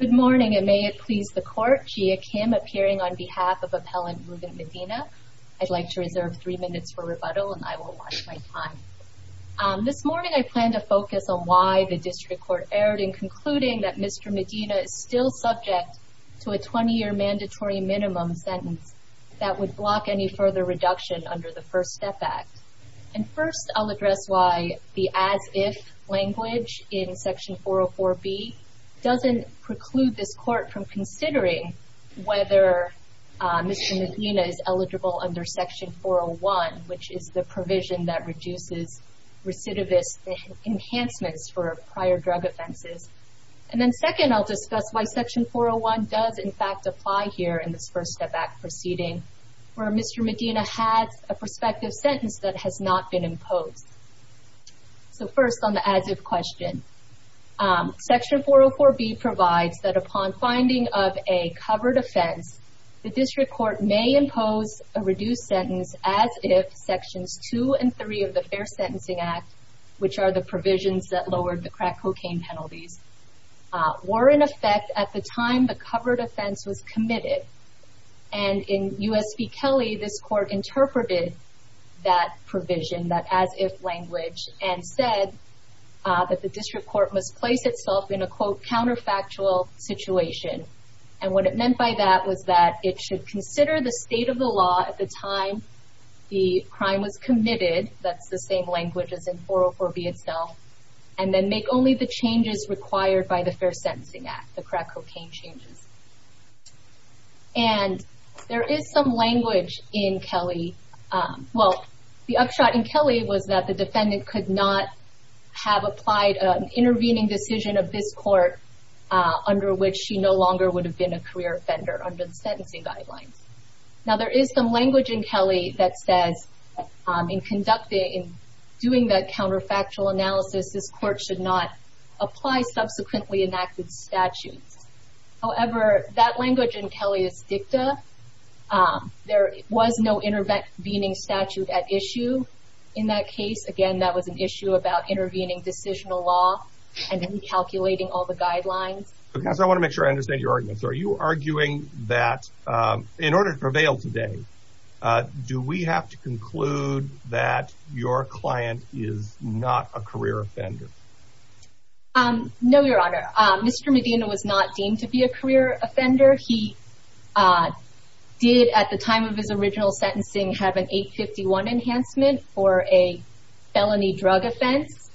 Good morning and may it please the court, Gia Kim appearing on behalf of Appellant Ruben Medina. I'd like to reserve three minutes for rebuttal and I will watch my time. This morning I plan to focus on why the District Court erred in concluding that Mr. Medina is still subject to a 20-year mandatory minimum sentence that would block any further reduction under the First Step Act. And first I'll address why the as-if language in Section 404B doesn't preclude this court from considering whether Mr. Medina is eligible under Section 401 which is the provision that reduces recidivist enhancements for prior drug offenses. And then second I'll discuss why Section 401 does in fact apply here in this First Step Act proceeding where Mr. Medina has a prospective sentence that has not been imposed. So first on the as-if question, Section 404B provides that upon finding of a covered offense, the District Court may impose a reduced sentence as if Sections 2 and 3 of the Fair Sentencing Act, which are the provisions that lowered the crack cocaine penalties, were in effect at the time the covered offense was committed. And in U.S. v. Kelly, this court interpreted that provision, that as-if language, and said that the District Court must place itself in a quote, counterfactual situation. And what it meant by that was that it should consider the state of the law at the time the crime was committed, that's the same language as in 404B itself, and then make only the changes required by the Fair Sentencing Act, the crack cocaine changes. And there is some language in Kelly. Well, the upshot in Kelly was that the defendant could not have applied an intervening decision of this court under which she no longer would have been a career offender under the sentencing guidelines. Now, there is some language in Kelly that says in conducting-in doing that counterfactual analysis, this court should not apply subsequently enacted statutes. However, that language in Kelly is dicta. There was no intervening statute at issue in that case. Again, that was an issue about intervening decisional law and recalculating all the guidelines. Counsel, I want to make sure I understand your arguments. Are you arguing that in order to prevail today, do we have to conclude that your client is not a career offender? No, Your Honor. Mr. Medina was not deemed to be a career offender. He did at the time of his original sentencing have an 851 enhancement for a felony drug offense.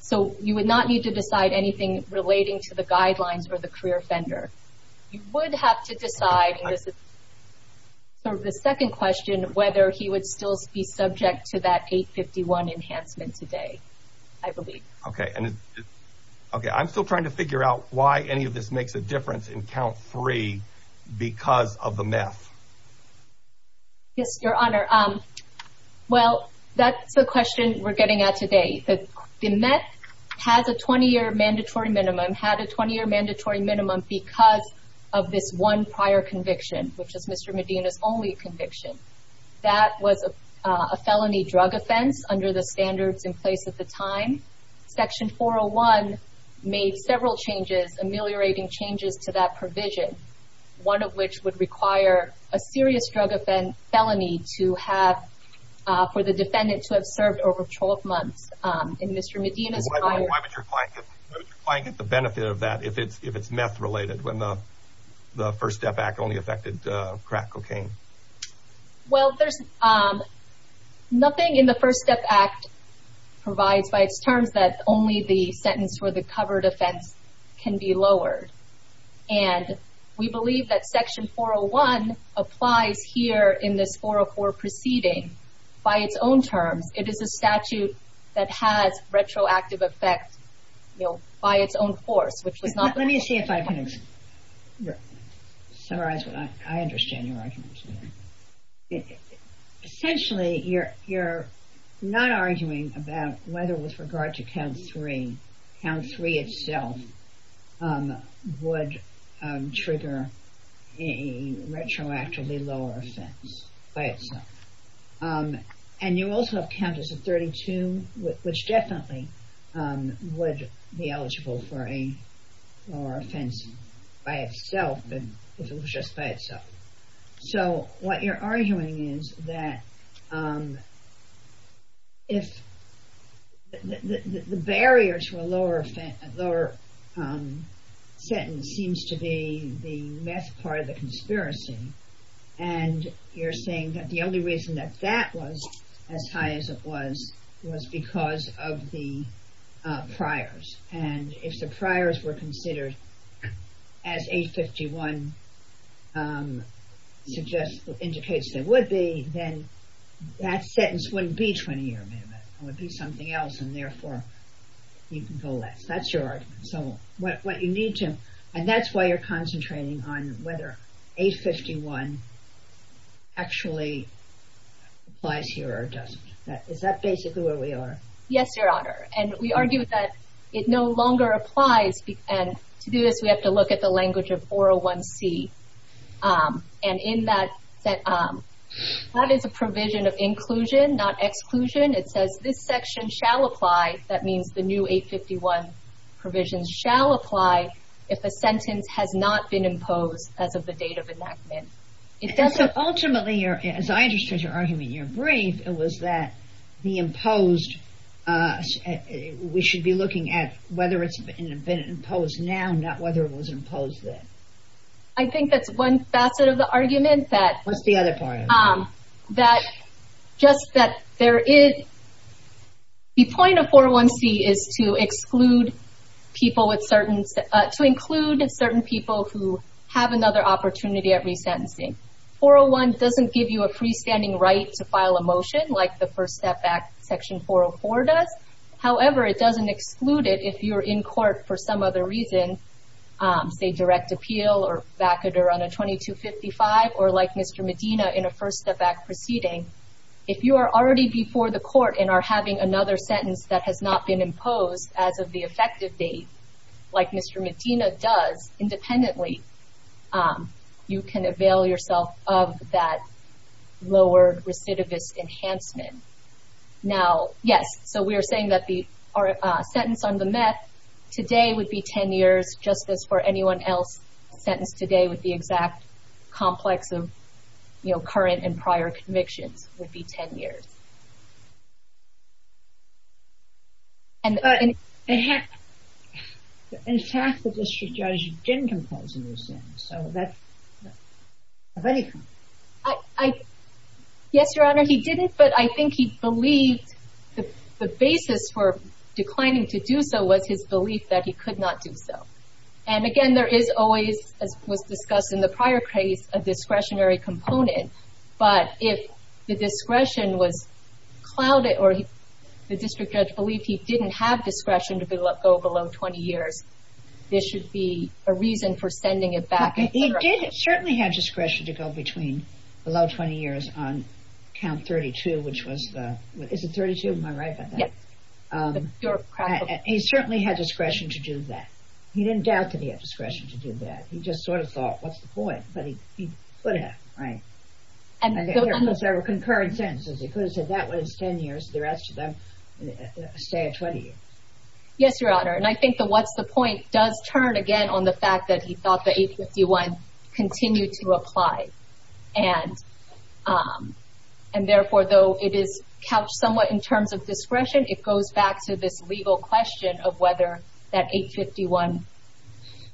So you would not need to decide anything relating to the guidelines or the career offender. You would have to decide, and this is sort of the second question, whether he would still be subject to that 851 enhancement today, I believe. Okay. I'm still trying to figure out why any of this makes a difference in count three because of the meth. Yes, Your Honor. Well, that's the question we're getting at today. The meth has a 20-year mandatory minimum, had a 20-year mandatory minimum because of this one prior conviction, which is Mr. Medina's only conviction. That was a felony drug offense under the standards in place at the time. Section 401 made several changes, ameliorating changes to that provision, one of which would require a serious drug offense felony to have for the defendant to have served over 12 months. And Mr. Medina's prior- Why would your client get the benefit of that if it's meth-related when the First Step Act only affected crack cocaine? Well, there's nothing in the First Step Act provides by its terms that only the sentence for the covered offense can be lowered. And we believe that Section 401 applies here in this 404 proceeding by its own terms. It is a statute that has retroactive effect, you know, by its own course, which was not- Let me see if I can summarize. I understand your argument. Essentially, you're not arguing about whether with regard to Count 3, Count 3 itself would trigger a retroactively lower offense by itself. And you also have Counters of 32, which definitely would be eligible for a lower offense by itself if it was just by itself. So what you're arguing is that if- The barrier to a lower sentence seems to be the meth part of the conspiracy. And you're saying that the only reason that that was as high as it was was because of the priors. And if the priors were considered as 851 indicates they would be, then that sentence wouldn't be 20-year amendment. It would be something else, and therefore you can go less. That's your argument. So what you need to- And that's why you're concentrating on whether 851 actually applies here or doesn't. Is that basically where we are? Yes, Your Honor. And we argue that it no longer applies. And to do this, we have to look at the language of 401C. And in that, that is a provision of inclusion, not exclusion. It says this section shall apply. That means the new 851 provisions shall apply if a sentence has not been imposed as of the date of enactment. Ultimately, as I understood your argument in your brief, it was that the imposed- We should be looking at whether it's been imposed now, not whether it was imposed then. I think that's one facet of the argument. Just that there is- The point of 401C is to exclude people with certain- to include certain people who have another opportunity at resentencing. 401 doesn't give you a freestanding right to file a motion like the First Step Act Section 404 does. However, it doesn't exclude it if you're in court for some other reason, say direct appeal or vacater on a 2255 or like Mr. Medina in a First Step Act proceeding. If you are already before the court and are having another sentence that has not been imposed as of the effective date, like Mr. Medina does independently, you can avail yourself of that lower recidivist enhancement. Now, yes, so we are saying that the sentence on the meth today would be 10 years, just as for anyone else sentenced today with the exact complex of current and prior convictions would be 10 years. In fact, the district judge didn't impose a resentence, so that's a very- Yes, Your Honor, he didn't, but I think he believed the basis for declining to do so was his belief that he could not do so. And again, there is always, as was discussed in the prior case, a discretionary component. But if the discretion was clouded or the district judge believed he didn't have discretion to go below 20 years, there should be a reason for sending it back. He did certainly have discretion to go below 20 years on count 32, which was the- Is it 32? Am I right about that? Yes. He certainly had discretion to do that. He didn't doubt that he had discretion to do that. He just sort of thought, what's the point? But he could have, right? And there were concurrent sentences. He could have said, that one is 10 years, the rest of them stay at 20 years. Yes, Your Honor, and I think the what's the point does turn again on the fact that he thought the 851 continued to apply. And therefore, though it is couched somewhat in terms of discretion, it goes back to this legal question of whether that 851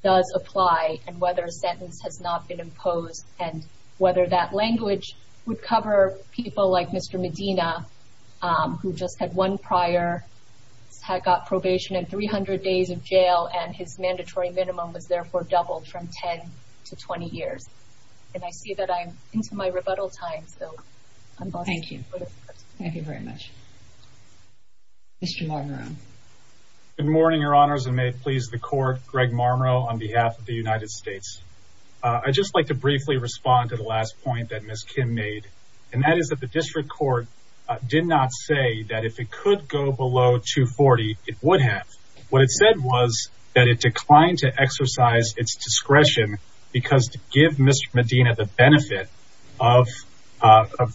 does apply and whether a sentence has not been imposed and whether that language would cover people like Mr. Medina, who just had one prior, had got probation and 300 days of jail and his mandatory minimum was therefore doubled from 10 to 20 years. And I see that I'm into my rebuttal time. Thank you. Thank you very much. Mr. Marmero. Good morning, Your Honors, and may it please the court, Greg Marmero on behalf of the United States. I'd just like to briefly respond to the last point that Ms. Kim made, and that is that the district court did not say that if it could go below 240, it would have. What it said was that it declined to exercise its discretion because to give Mr. Medina the benefit of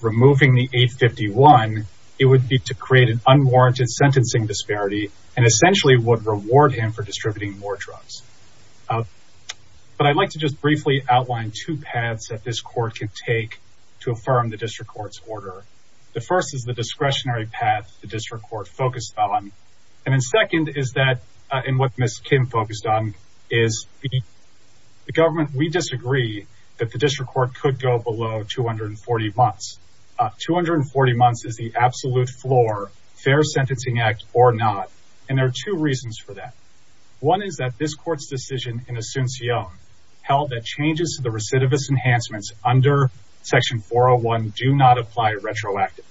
removing the 851, it would be to create an unwarranted sentencing disparity and essentially would reward him for distributing more drugs. But I'd like to just briefly outline two paths that this court can take to affirm the district court's order. The first is the discretionary path the district court focused on. And then second is that, and what Ms. Kim focused on, is the government. We disagree that the district court could go below 240 months. 240 months is the absolute floor, fair sentencing act or not. And there are two reasons for that. One is that this court's decision in Asuncion held that changes to the recidivist enhancements under Section 401 do not apply retroactively.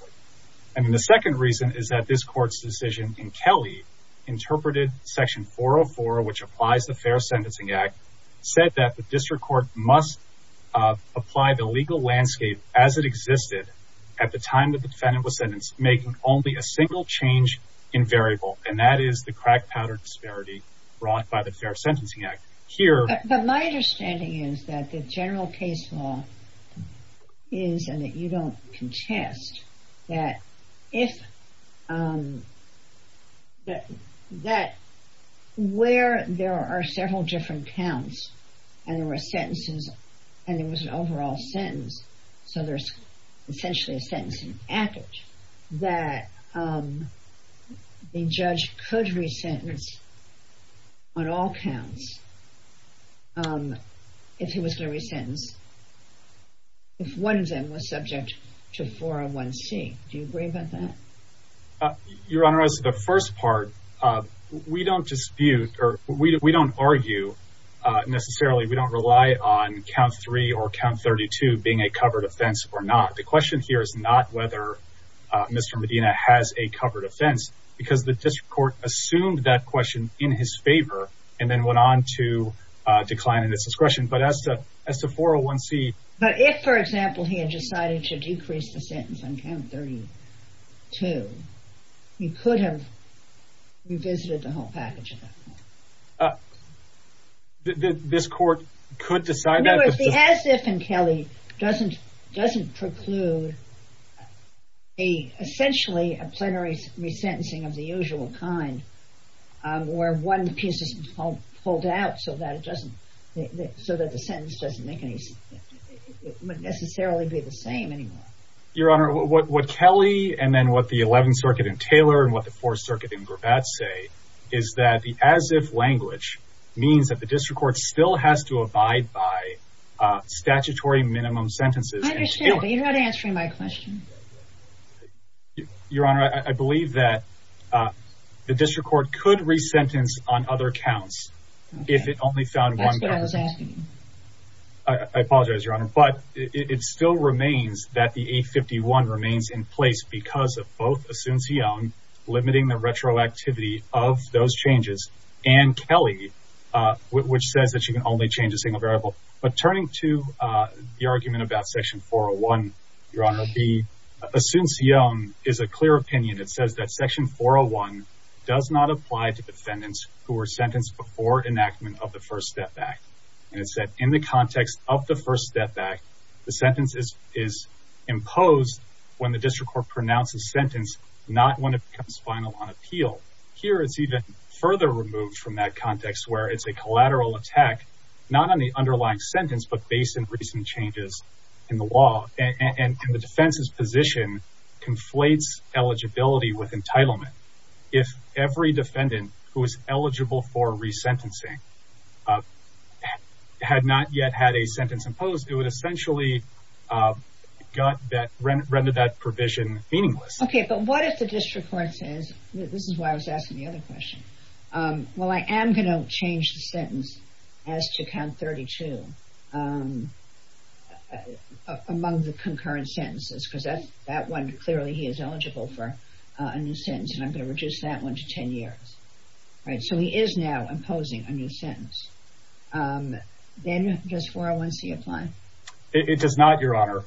And then the second reason is that this court's decision in Kelly interpreted Section 404, which applies the Fair Sentencing Act, said that the district court must apply the legal landscape as it existed at the time that the defendant was sentenced, making only a single change in variable. And that is the crack powder disparity brought by the Fair Sentencing Act. But my understanding is that the general case law is, and that you don't contest, that where there are several different counts and there were sentences and there was an overall sentence, so there's essentially a sentencing package, that the judge could resentence on all counts if he was going to resentence if one of them was subject to 401C. Do you agree about that? Your Honor, as the first part, we don't dispute or we don't argue necessarily. We don't rely on count three or count 32 being a covered offense or not. The question here is not whether Mr. Medina has a covered offense because the district court assumed that question in his favor and then went on to decline in his discretion. But as to 401C... But if, for example, he had decided to decrease the sentence on count 32, he could have revisited the whole package at that point. This court could decide that? In other words, the as-if in Kelly doesn't preclude essentially a plenary resentencing of the usual kind where one piece is pulled out so that the sentence doesn't make any sense. It wouldn't necessarily be the same anymore. Your Honor, what Kelly and then what the Eleventh Circuit in Taylor and what the Fourth Circuit in Gravatt say is that the as-if language means that the district court still has to abide by statutory minimum sentences. I understand, but you're not answering my question. Your Honor, I believe that the district court could resentence on other counts if it only found one covered offense. That's what I was asking. I apologize, Your Honor, but it still remains that the 851 remains in place because of both Asuncion limiting the retroactivity of those changes and Kelly, which says that you can only change a single variable. But turning to the argument about Section 401, Your Honor, the Asuncion is a clear opinion. It says that Section 401 does not apply to defendants who were sentenced before enactment of the First Step Act. And it said in the context of the First Step Act, the sentence is imposed when the district court pronounces sentence, not when it becomes final on appeal. Here it's even further removed from that context where it's a collateral attack, not on the underlying sentence, but based in recent changes in the law. And the defense's position conflates eligibility with entitlement. If every defendant who is eligible for resentencing had not yet had a sentence imposed, it would essentially render that provision meaningless. Okay, but what if the district court says, this is why I was asking the other question, Well, I am going to change the sentence as to count 32 among the concurrent sentences because that one clearly he is eligible for a new sentence. And I'm going to reduce that one to 10 years. Right, so he is now imposing a new sentence. Then does 401C apply? It does not, Your Honor.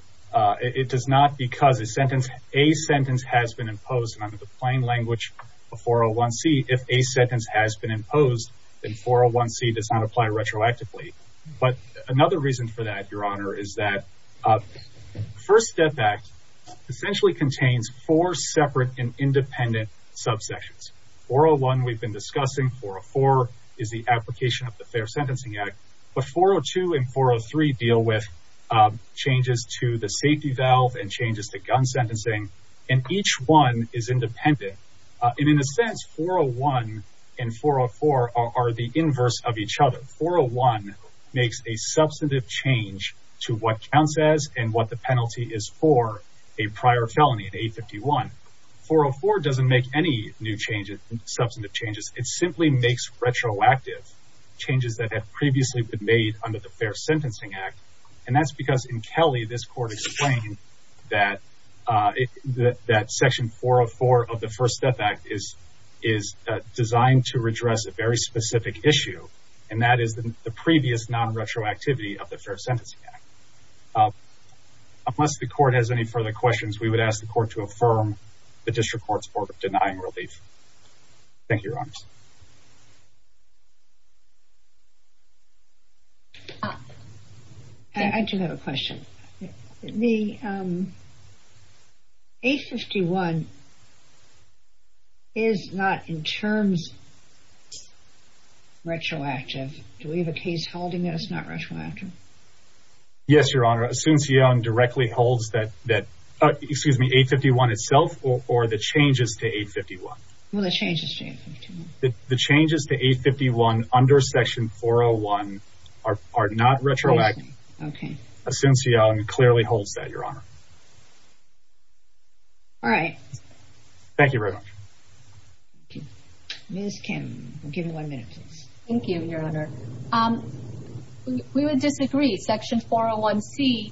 It does not because a sentence has been imposed under the plain language of 401C. If a sentence has been imposed, then 401C does not apply retroactively. But another reason for that, Your Honor, is that the First Step Act essentially contains four separate and independent subsections. 401 we've been discussing, 404 is the application of the Fair Sentencing Act. But 402 and 403 deal with changes to the safety valve and changes to gun sentencing. And each one is independent. And in a sense, 401 and 404 are the inverse of each other. 401 makes a substantive change to what counts as and what the penalty is for a prior felony in 851. 404 doesn't make any new substantive changes. It simply makes retroactive changes that have previously been made under the Fair Sentencing Act. And that's because in Kelly, this Court explained that Section 404 of the First Step Act is designed to redress a very specific issue. And that is the previous non-retroactivity of the Fair Sentencing Act. Unless the Court has any further questions, we would ask the Court to affirm the District Court's order denying relief. Thank you, Your Honor. I do have a question. The 851 is not in terms of retroactive. Do we have a case holding that it's not retroactive? Yes, Your Honor. Asuncion directly holds that 851 itself or the changes to 851. Well, the changes to 851. The changes to 851 under Section 401 are not retroactive. Okay. Asuncion clearly holds that, Your Honor. All right. Thank you very much. Ms. Kim, give me one minute, please. Thank you, Your Honor. We would disagree. Section 401C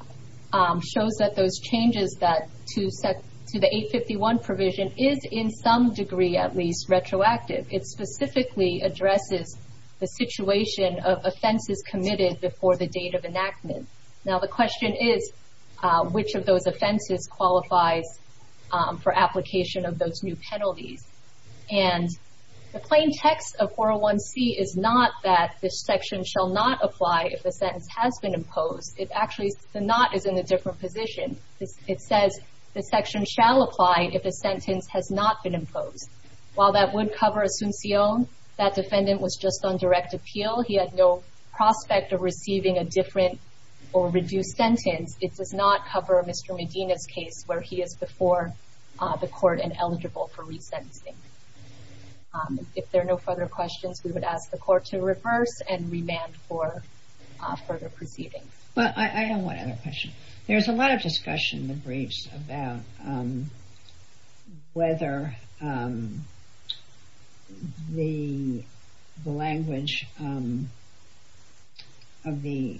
shows that those changes to the 851 provision is, in some degree at least, retroactive. It specifically addresses the situation of offenses committed before the date of enactment. Now, the question is, which of those offenses qualifies for application of those new penalties? And the plain text of 401C is not that this section shall not apply if a sentence has been imposed. It actually—the not is in a different position. It says the section shall apply if a sentence has not been imposed. While that would cover Asuncion, that defendant was just on direct appeal. He had no prospect of receiving a different or reduced sentence. It does not cover Mr. Medina's case where he is before the court and eligible for resentencing. If there are no further questions, we would ask the court to reverse and remand for further proceeding. Well, I don't want other questions. There's a lot of discussion in the briefs about whether the language of the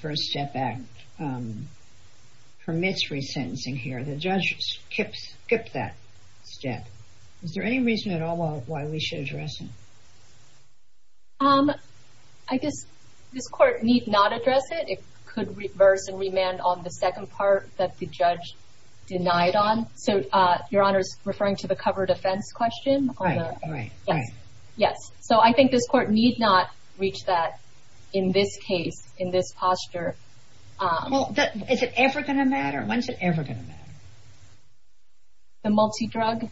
First Step Act permits resentencing here. The judge skipped that step. Is there any reason at all why we should address it? I guess this court need not address it. It could reverse and remand on the second part that the judge denied on. So, Your Honor is referring to the covered offense question? Right, right, right. Yes. So, I think this court need not reach that in this case, in this posture. Is it ever going to matter? When is it ever going to matter? The multi-drug?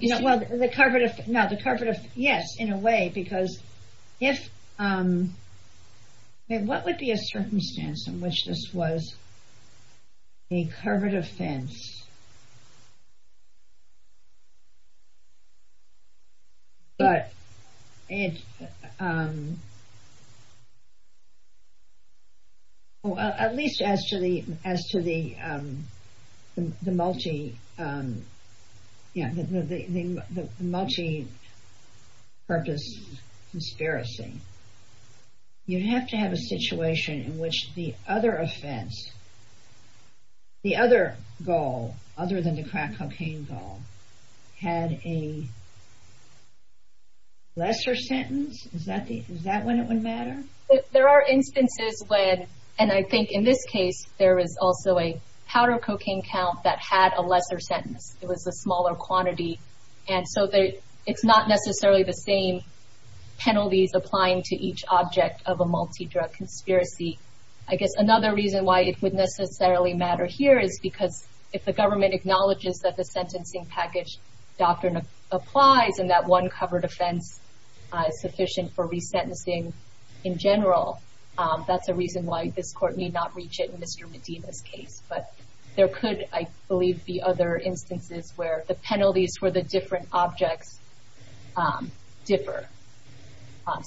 Yes, in a way. What would be a circumstance in which this was a covered offense? Well, at least as to the multi-purpose conspiracy, you'd have to have a situation in which the other offense, the other goal, other than the crack cocaine goal, had a lesser sentence? Is that when it would matter? There are instances when, and I think in this case, there is also a powder cocaine count that had a lesser sentence. It was a smaller quantity. And so, it's not necessarily the same penalties applying to each object of a multi-drug conspiracy. I guess another reason why it would necessarily matter here is because if the government acknowledges that the sentencing package doctrine applies and that one covered offense is sufficient for resentencing in general, that's a reason why this court need not reach it in Mr. Medina's case. But there could, I believe, be other instances where the penalties for the different objects differ.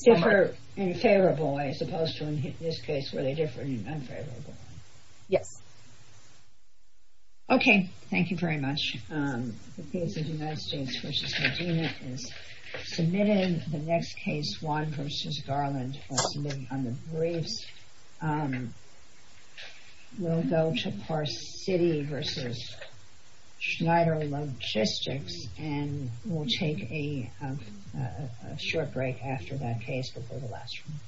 Differ in favorable ways as opposed to, in this case, where they differ in unfavorable ways. Yes. Okay, thank you very much. The case of United States v. Medina is submitted. The next case, Wan v. Garland, will be submitted under briefs. We'll go to Pars City v. Schneider Logistics and we'll take a short break after that case before the last one.